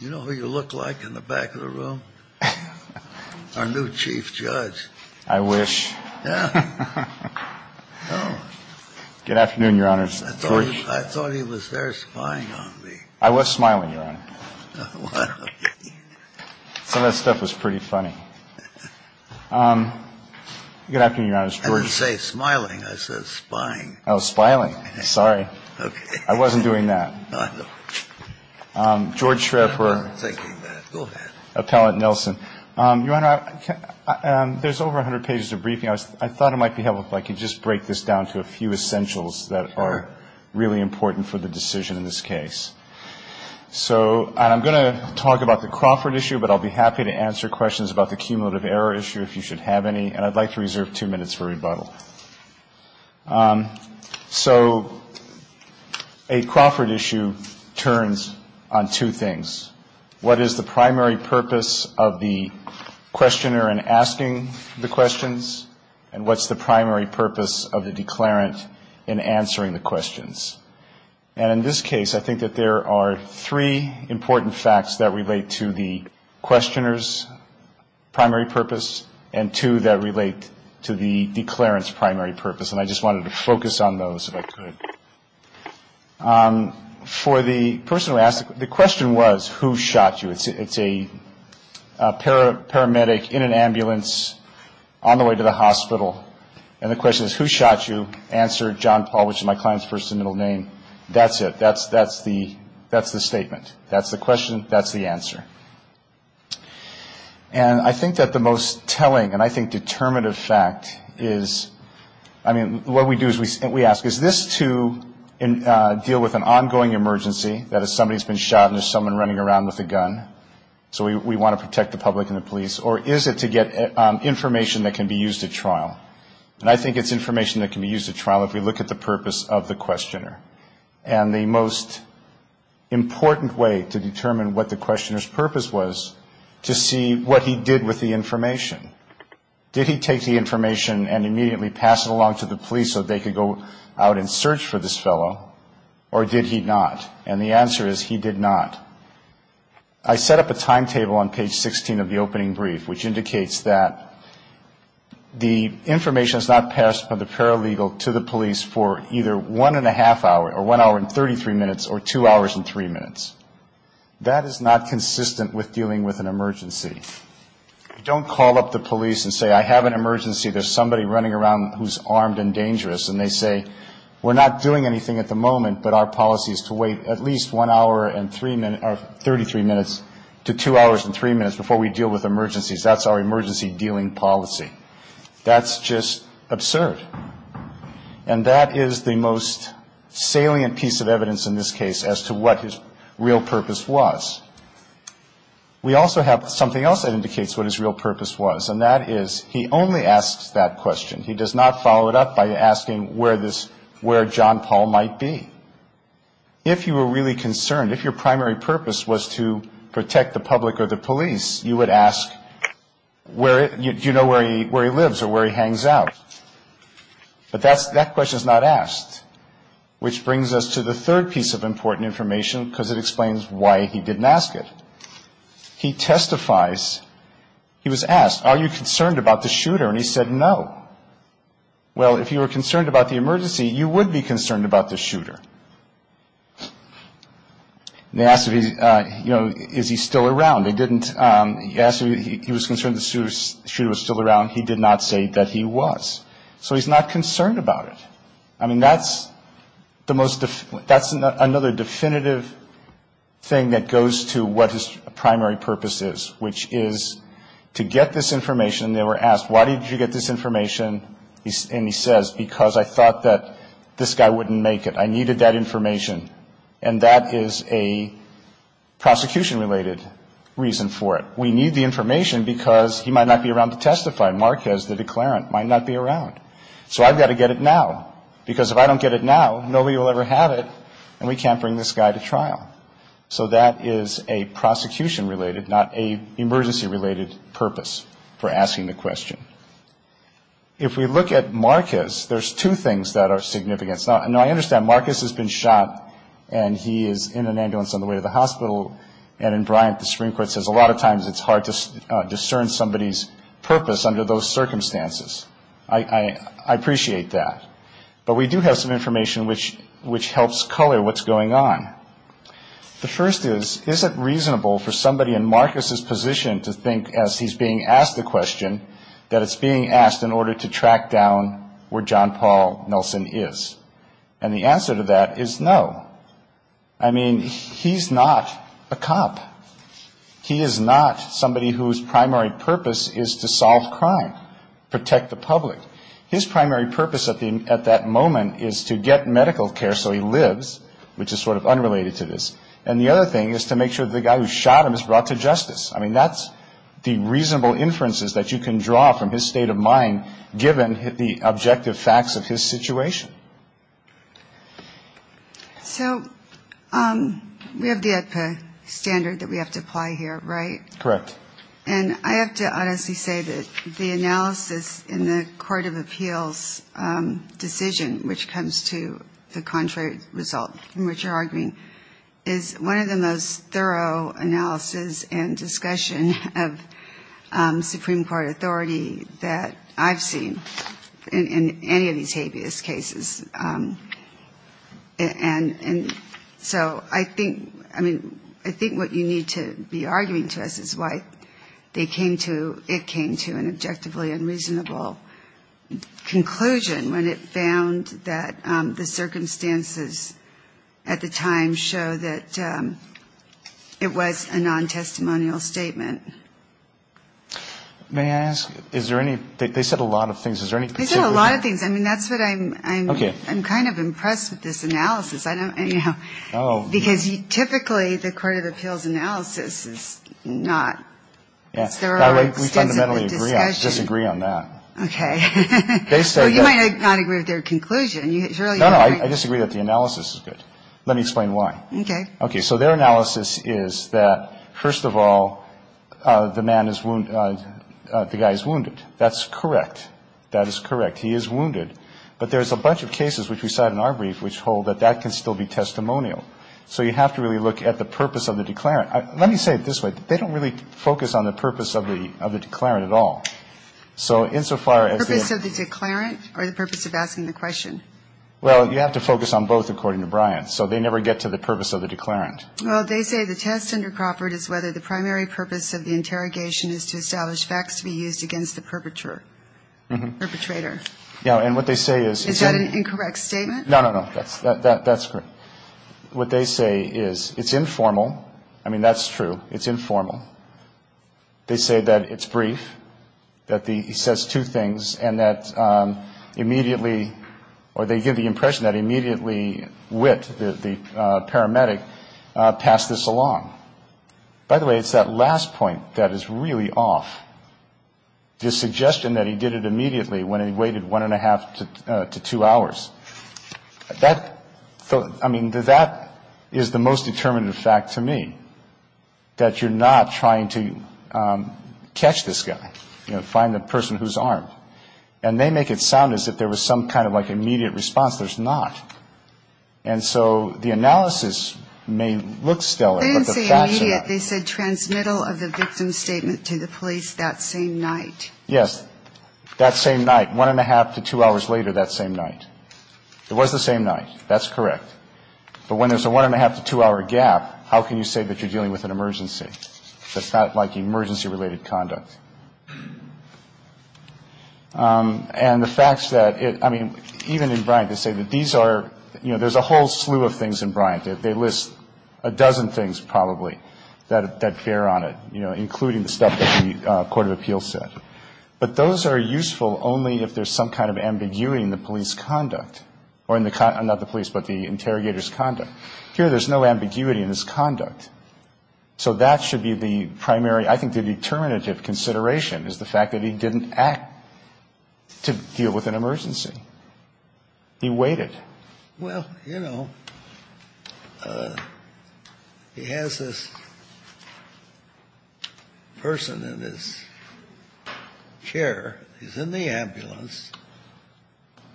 You know who you look like in the back of the room? Our new chief judge. I wish. Good afternoon, your honors. I thought he was there spying on me. I was smiling, your honor. Some of that stuff was pretty funny. Good afternoon, your honors. I didn't say smiling, I said spying. I was spying, sorry. I wasn't doing that. No, I know. George Schreffer. I'm thinking that. Go ahead. Appellant Nelson. Your honor, there's over 100 pages of briefing. I thought it might be helpful if I could just break this down to a few essentials that are really important for the decision in this case. So I'm going to talk about the Crawford issue, but I'll be happy to answer questions about the cumulative error issue if you should have any. And I'd like to reserve two minutes for rebuttal. So a Crawford issue turns on two things. What is the primary purpose of the questioner in asking the questions? And what's the primary purpose of the declarant in answering the questions? And in this case, I think that there are three important facts that relate to the questioner's primary purpose and two that relate to the declarant's primary purpose, and I just wanted to focus on those if I could. For the person who asked, the question was, who shot you? It's a paramedic in an ambulance on the way to the hospital, and the question is, who shot you? Answer, John Paul, which is my client's first and middle name. That's it. That's the statement. That's the question. That's the answer. And I think that the most telling and I think determinative fact is, I mean, what we do is we ask, is this to deal with an ongoing emergency, that is somebody's been shot and there's someone running around with a gun, so we want to protect the public and the police, or is it to get information that can be used at trial? And I think it's information that can be used at trial if we look at the purpose of the questioner. And the most important way to determine what the questioner's purpose was, to see what he did with the information. Did he take the information and immediately pass it along to the police so they could go out and search for this fellow, or did he not? And the answer is, he did not. I set up a timetable on page 16 of the opening brief, which indicates that the information is not passed from the paralegal to the police for either one and a half hour or one hour and 33 minutes or two hours and three minutes. That is not consistent with dealing with an emergency. You don't call up the police and say, I have an emergency, there's somebody running around who's armed and dangerous, and they say, we're not doing anything at the moment, but our policy is to wait at least one hour and 33 minutes to two hours and three minutes before we deal with emergencies. That's our emergency dealing policy. That's just absurd. And that is the most salient piece of evidence in this case as to what his real purpose was. We also have something else that indicates what his real purpose was, and that is, he only asks that question. He does not follow it up by asking where John Paul might be. If you were really concerned, if your primary purpose was to protect the public or the police, you would ask, do you know where he lives or where he hangs out? But that question is not asked, which brings us to the third piece of important information, because it explains why he didn't ask it. He testifies. He was asked, are you concerned about the shooter? And he said, no. Well, if you were concerned about the emergency, you would be concerned about the shooter. And they asked if he, you know, is he still around. They didn't ask if he was concerned the shooter was still around. He did not say that he was. So he's not concerned about it. I mean, that's another definitive thing that goes to what his primary purpose is, which is to get this information. They were asked, why did you get this information? And he says, because I thought that this guy wouldn't make it. I needed that information. And that is a prosecution-related reason for it. We need the information because he might not be around to testify. Marquez, the declarant, might not be around. So I've got to get it now. Because if I don't get it now, nobody will ever have it, and we can't bring this guy to trial. So that is a prosecution-related, not an emergency-related purpose for asking the question. If we look at Marquez, there's two things that are significant. Now, I understand Marquez has been shot, and he is in an ambulance on the way to the hospital. And in Bryant, the Supreme Court says a lot of times it's hard to discern somebody's purpose under those circumstances. I appreciate that. But we do have some information which helps color what's going on. The first is, is it reasonable for somebody in Marquez's position to think, as he's being asked the question, that it's being asked in order to track down where John Paul Nelson is? And the answer to that is no. I mean, he's not a cop. He is not somebody whose primary purpose is to solve crime, protect the public. His primary purpose at that moment is to get medical care so he lives, which is sort of unrelated to this. And the other thing is to make sure the guy who shot him is brought to justice. I mean, that's the reasonable inferences that you can draw from his state of mind, given the objective facts of his situation. So we have the AEDPA standard that we have to apply here, right? Correct. And I have to honestly say that the analysis in the Court of Appeals decision, which comes to the contrary result in which you're arguing, is one of the most thorough analysis and discussion of Supreme Court authority that I've seen in any of these habeas cases. And so I think, I mean, I think what you need to be arguing to us is why they came to, it came to an objectively unreasonable conclusion when it found that the circumstances at the time show that it was a non-testimonial statement. May I ask, is there any, they said a lot of things. They said a lot of things. I mean, that's what I'm, I'm kind of impressed with this analysis. I don't, you know, because typically the Court of Appeals analysis is not. We fundamentally disagree on that. Okay. You might not agree with their conclusion. No, no. I disagree that the analysis is good. Let me explain why. Okay. Okay. So their analysis is that, first of all, the man is, the guy is wounded. That's correct. That is correct. He is wounded. But there's a bunch of cases which we cite in our brief which hold that that can still be testimonial. So you have to really look at the purpose of the declarant. Let me say it this way. They don't really focus on the purpose of the, of the declarant at all. So insofar as the. The purpose of the declarant or the purpose of asking the question? Well, you have to focus on both, according to Bryant. So they never get to the purpose of the declarant. Well, they say the test under Crawford is whether the primary purpose of the interrogation is to establish facts to be used against the perpetrator. Perpetrator. Yeah. And what they say is. Is that an incorrect statement? No, no, no. That's correct. What they say is it's informal. I mean, that's true. It's informal. They say that it's brief. That the, he says two things. And that immediately, or they give the impression that immediately Witt, the paramedic, passed this along. By the way, it's that last point that is really off. The suggestion that he did it immediately when he waited one and a half to two hours. That, I mean, that is the most determinative fact to me. That you're not trying to catch this guy. You know, find the person who's armed. And they make it sound as if there was some kind of like immediate response. There's not. And so the analysis may look stellar. They didn't say immediate. They said transmittal of the victim's statement to the police that same night. Yes. That same night. One and a half to two hours later that same night. It was the same night. That's correct. But when there's a one and a half to two hour gap, how can you say that you're dealing with an emergency? That's not like emergency related conduct. And the fact that it, I mean, even in Bryant they say that these are, you know, there's a whole slew of things in Bryant. They list a dozen things probably that bear on it. You know, including the stuff that the court of appeals said. But those are useful only if there's some kind of ambiguity in the police conduct. Or in the, not the police, but the interrogator's conduct. Here there's no ambiguity in his conduct. So that should be the primary, I think the determinative consideration is the fact that he didn't act to deal with an emergency. He waited. Well, you know, he has this person in his chair. He's in the ambulance.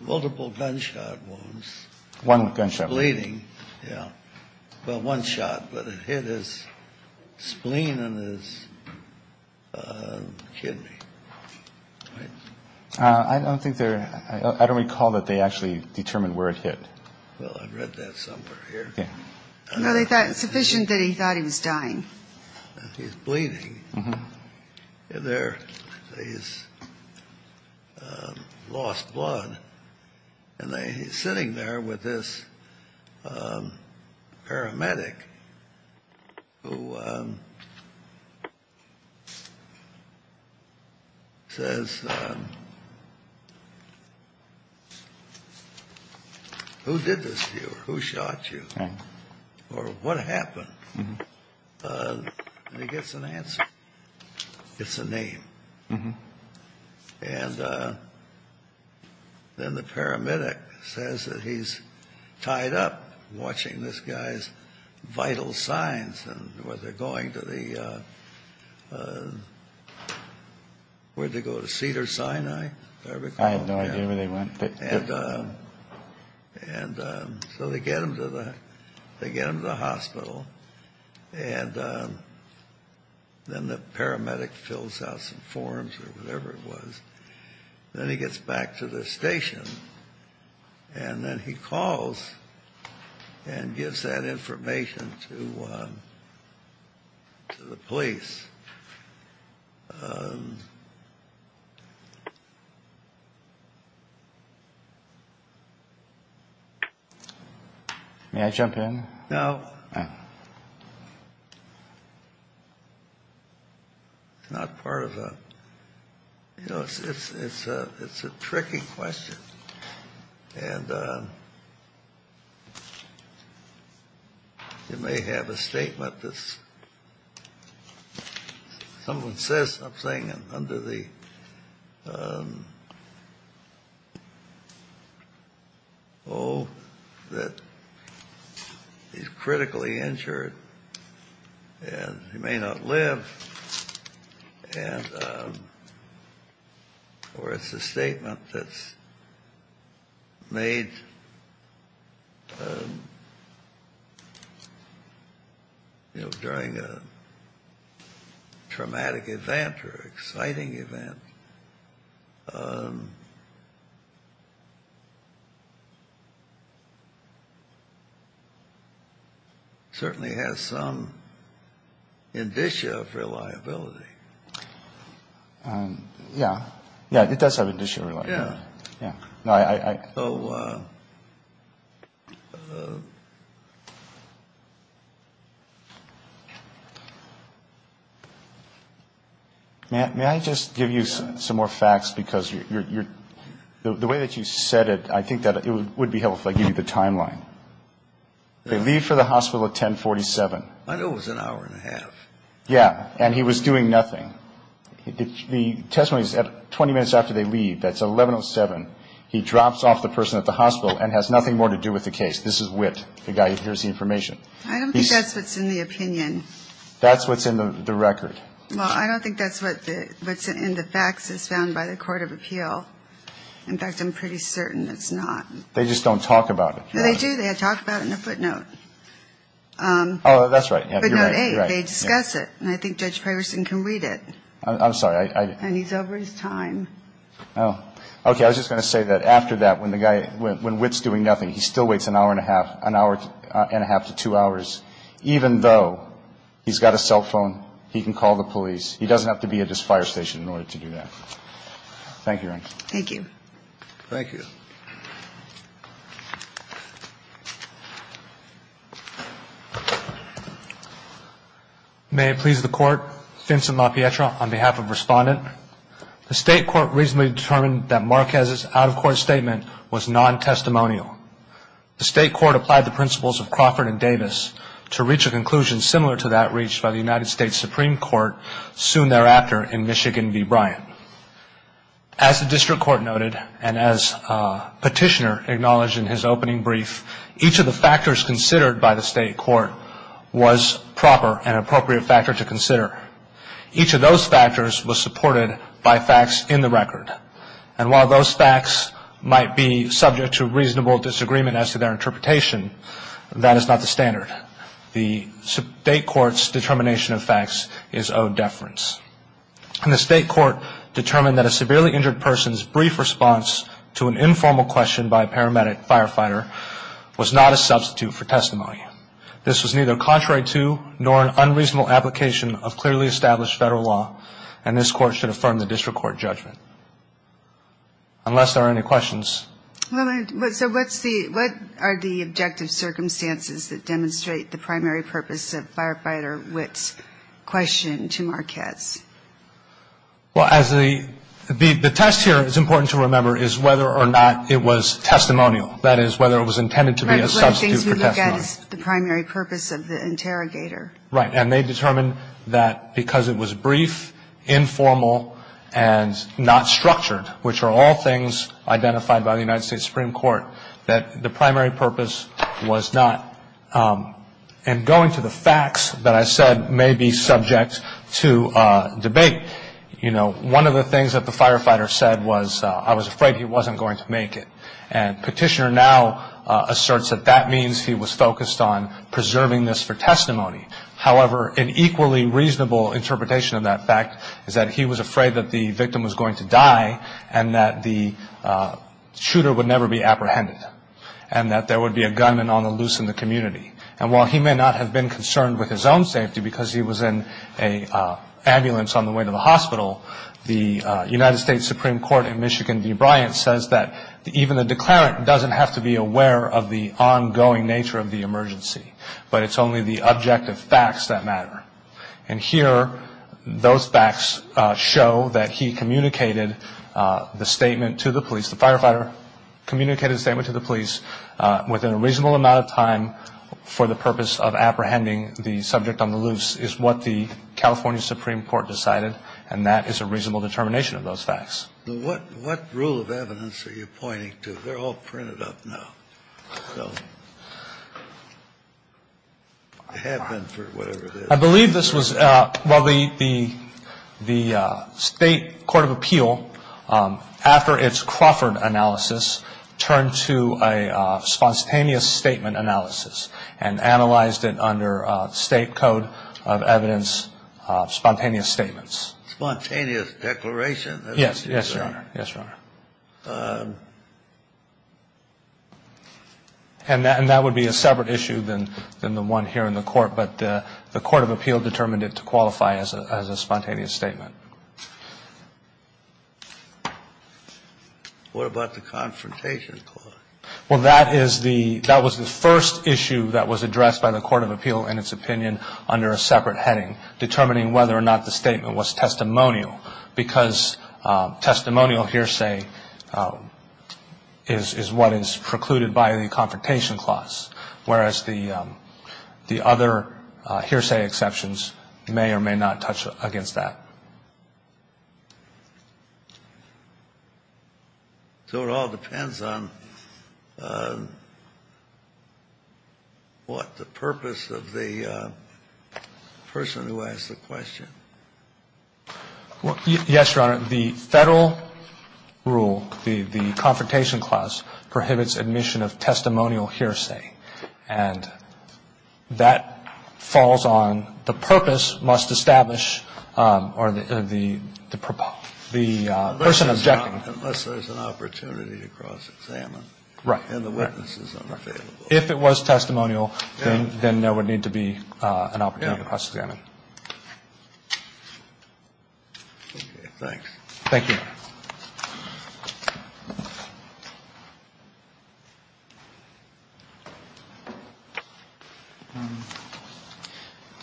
Multiple gunshot wounds. One gunshot. Bleeding. Yeah. Well, one shot. But it hit his spleen and his kidney. I don't think they're, I don't recall that they actually determined where it hit. Well, I read that somewhere here. Yeah. No, they thought, it's sufficient that he thought he was dying. He's bleeding. There. He's lost blood. And he's sitting there with this paramedic who says, who did this to you? Who shot you? Or what happened? And he gets an answer. It's a name. And then the paramedic says that he's tied up watching this guy's vital signs and where they're going to the, where did they go? To Cedars-Sinai? I have no idea where they went. And so they get him to the hospital. And then the paramedic fills out some forms or whatever it was. Then he gets back to the station. And then he calls and gives that information to the police. May I jump in? No. It's not part of a, you know, it's a tricky question. And you may have a statement that someone says something under the oath that he's critically injured and he may not live. And or it's a statement that's made, you know, during a traumatic event or exciting event. It certainly has some indicia of reliability. Yeah. Yeah. It does have indicia of reliability. Yeah. Yeah. So. May I just give you some more facts? Because the way that you said it, I think that it would be helpful if I give you the timeline. They leave for the hospital at 1047. I know it was an hour and a half. Yeah. And he was doing nothing. The testimony is 20 minutes after they leave. That's 1107. He drops off the person at the hospital and has nothing more to do with the case. This is Witt, the guy who hears the information. I don't think that's what's in the opinion. That's what's in the record. Well, I don't think that's what's in the facts as found by the Court of Appeal. In fact, I'm pretty certain it's not. They just don't talk about it. No, they do. They talk about it in a footnote. Oh, that's right. Footnote 8. They discuss it. And I think Judge Pegerson can read it. I'm sorry. And he's over his time. Oh. Okay. I was just going to say that after that, when Witt's doing nothing, he still waits an hour and a half to two hours, even though he's got a cell phone, he can call the police. He doesn't have to be at his fire station in order to do that. Thank you, Your Honor. Thank you. Thank you. Thank you. May it please the Court, Vincent LaPietra on behalf of Respondent. The State Court recently determined that Marquez's out-of-court statement was non-testimonial. The State Court applied the principles of Crawford and Davis to reach a conclusion similar to that reached by the United States Supreme Court soon thereafter in Michigan v. Bryant. As the District Court noted, and as Petitioner acknowledged in his opening brief, each of the factors considered by the State Court was proper and appropriate factor to consider. Each of those factors was supported by facts in the record. And while those facts might be subject to reasonable disagreement as to their interpretation, that is not the standard. The State Court's determination of facts is owed deference. And the State Court determined that a severely injured person's brief response to an informal question by a paramedic firefighter was not a substitute for testimony. This was neither contrary to nor an unreasonable application of clearly established federal law, and this Court should affirm the District Court judgment. Unless there are any questions. So what are the objective circumstances that demonstrate the primary purpose of Firefighter Witt's question to Marquez? Well, as the test here, it's important to remember, is whether or not it was testimonial. That is, whether it was intended to be a substitute for testimony. Right, but one of the things we look at is the primary purpose of the interrogator. Right. And they determined that because it was brief, informal, and not structured, which are all things identified by the United States Supreme Court, that the primary purpose was not. And going to the facts that I said may be subject to debate, you know, one of the things that the firefighter said was, I was afraid he wasn't going to make it. And Petitioner now asserts that that means he was focused on preserving this for testimony. However, an equally reasonable interpretation of that fact is that he was afraid that the victim was going to die and that the shooter would never be apprehended and that there would be a gunman on the loose in the community. And while he may not have been concerned with his own safety because he was in an ambulance on the way to the hospital, the United States Supreme Court in Michigan, D. Bryant, says that even the declarant doesn't have to be aware of the ongoing nature of the emergency, but it's only the objective facts that matter. And here, those facts show that he communicated the statement to the police. The firefighter communicated the statement to the police within a reasonable amount of time for the purpose of apprehending the subject on the loose is what the California Supreme Court decided, and that is a reasonable determination of those facts. What rule of evidence are you pointing to? They're all printed up now. So they have been for whatever it is. I believe this was, well, the state court of appeal, after its Crawford analysis, turned to a spontaneous statement analysis and analyzed it under state code of evidence, spontaneous statements. Spontaneous declaration? Yes, Your Honor. Yes, Your Honor. And that would be a separate issue than the one here in the court, but the court of appeal determined it to qualify as a spontaneous statement. What about the confrontation clause? Well, that is the ‑‑ that was the first issue that was addressed by the court of appeal in its opinion under a separate heading, determining whether or not the statement was testimonial, because testimonial hearsay is what is precluded by the confrontation clause, whereas the other hearsay exceptions may or may not touch against that. So it all depends on what the purpose of the person who asked the question. Yes, Your Honor. The federal rule, the confrontation clause, prohibits admission of testimonial hearsay, and that falls on the purpose must establish or the person objecting. Unless there's an opportunity to cross-examine. Right. And the witness is unavailable. If it was testimonial, then there would need to be an opportunity to cross-examine. Okay. Thanks. Thank you.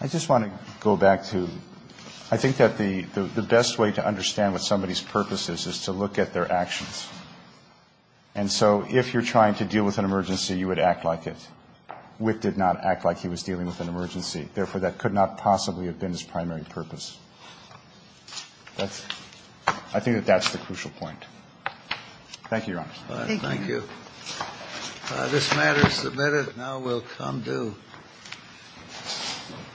I just want to go back to ‑‑ I think that the best way to understand what somebody's purpose is is to look at their actions. And so if you're trying to deal with an emergency, you would act like it. Witt did not act like he was dealing with an emergency. Therefore, that could not possibly have been his primary purpose. I think that that's the crucial point. Thank you, Your Honor. Thank you. Thank you. This matter is submitted. Now we'll come to ‑‑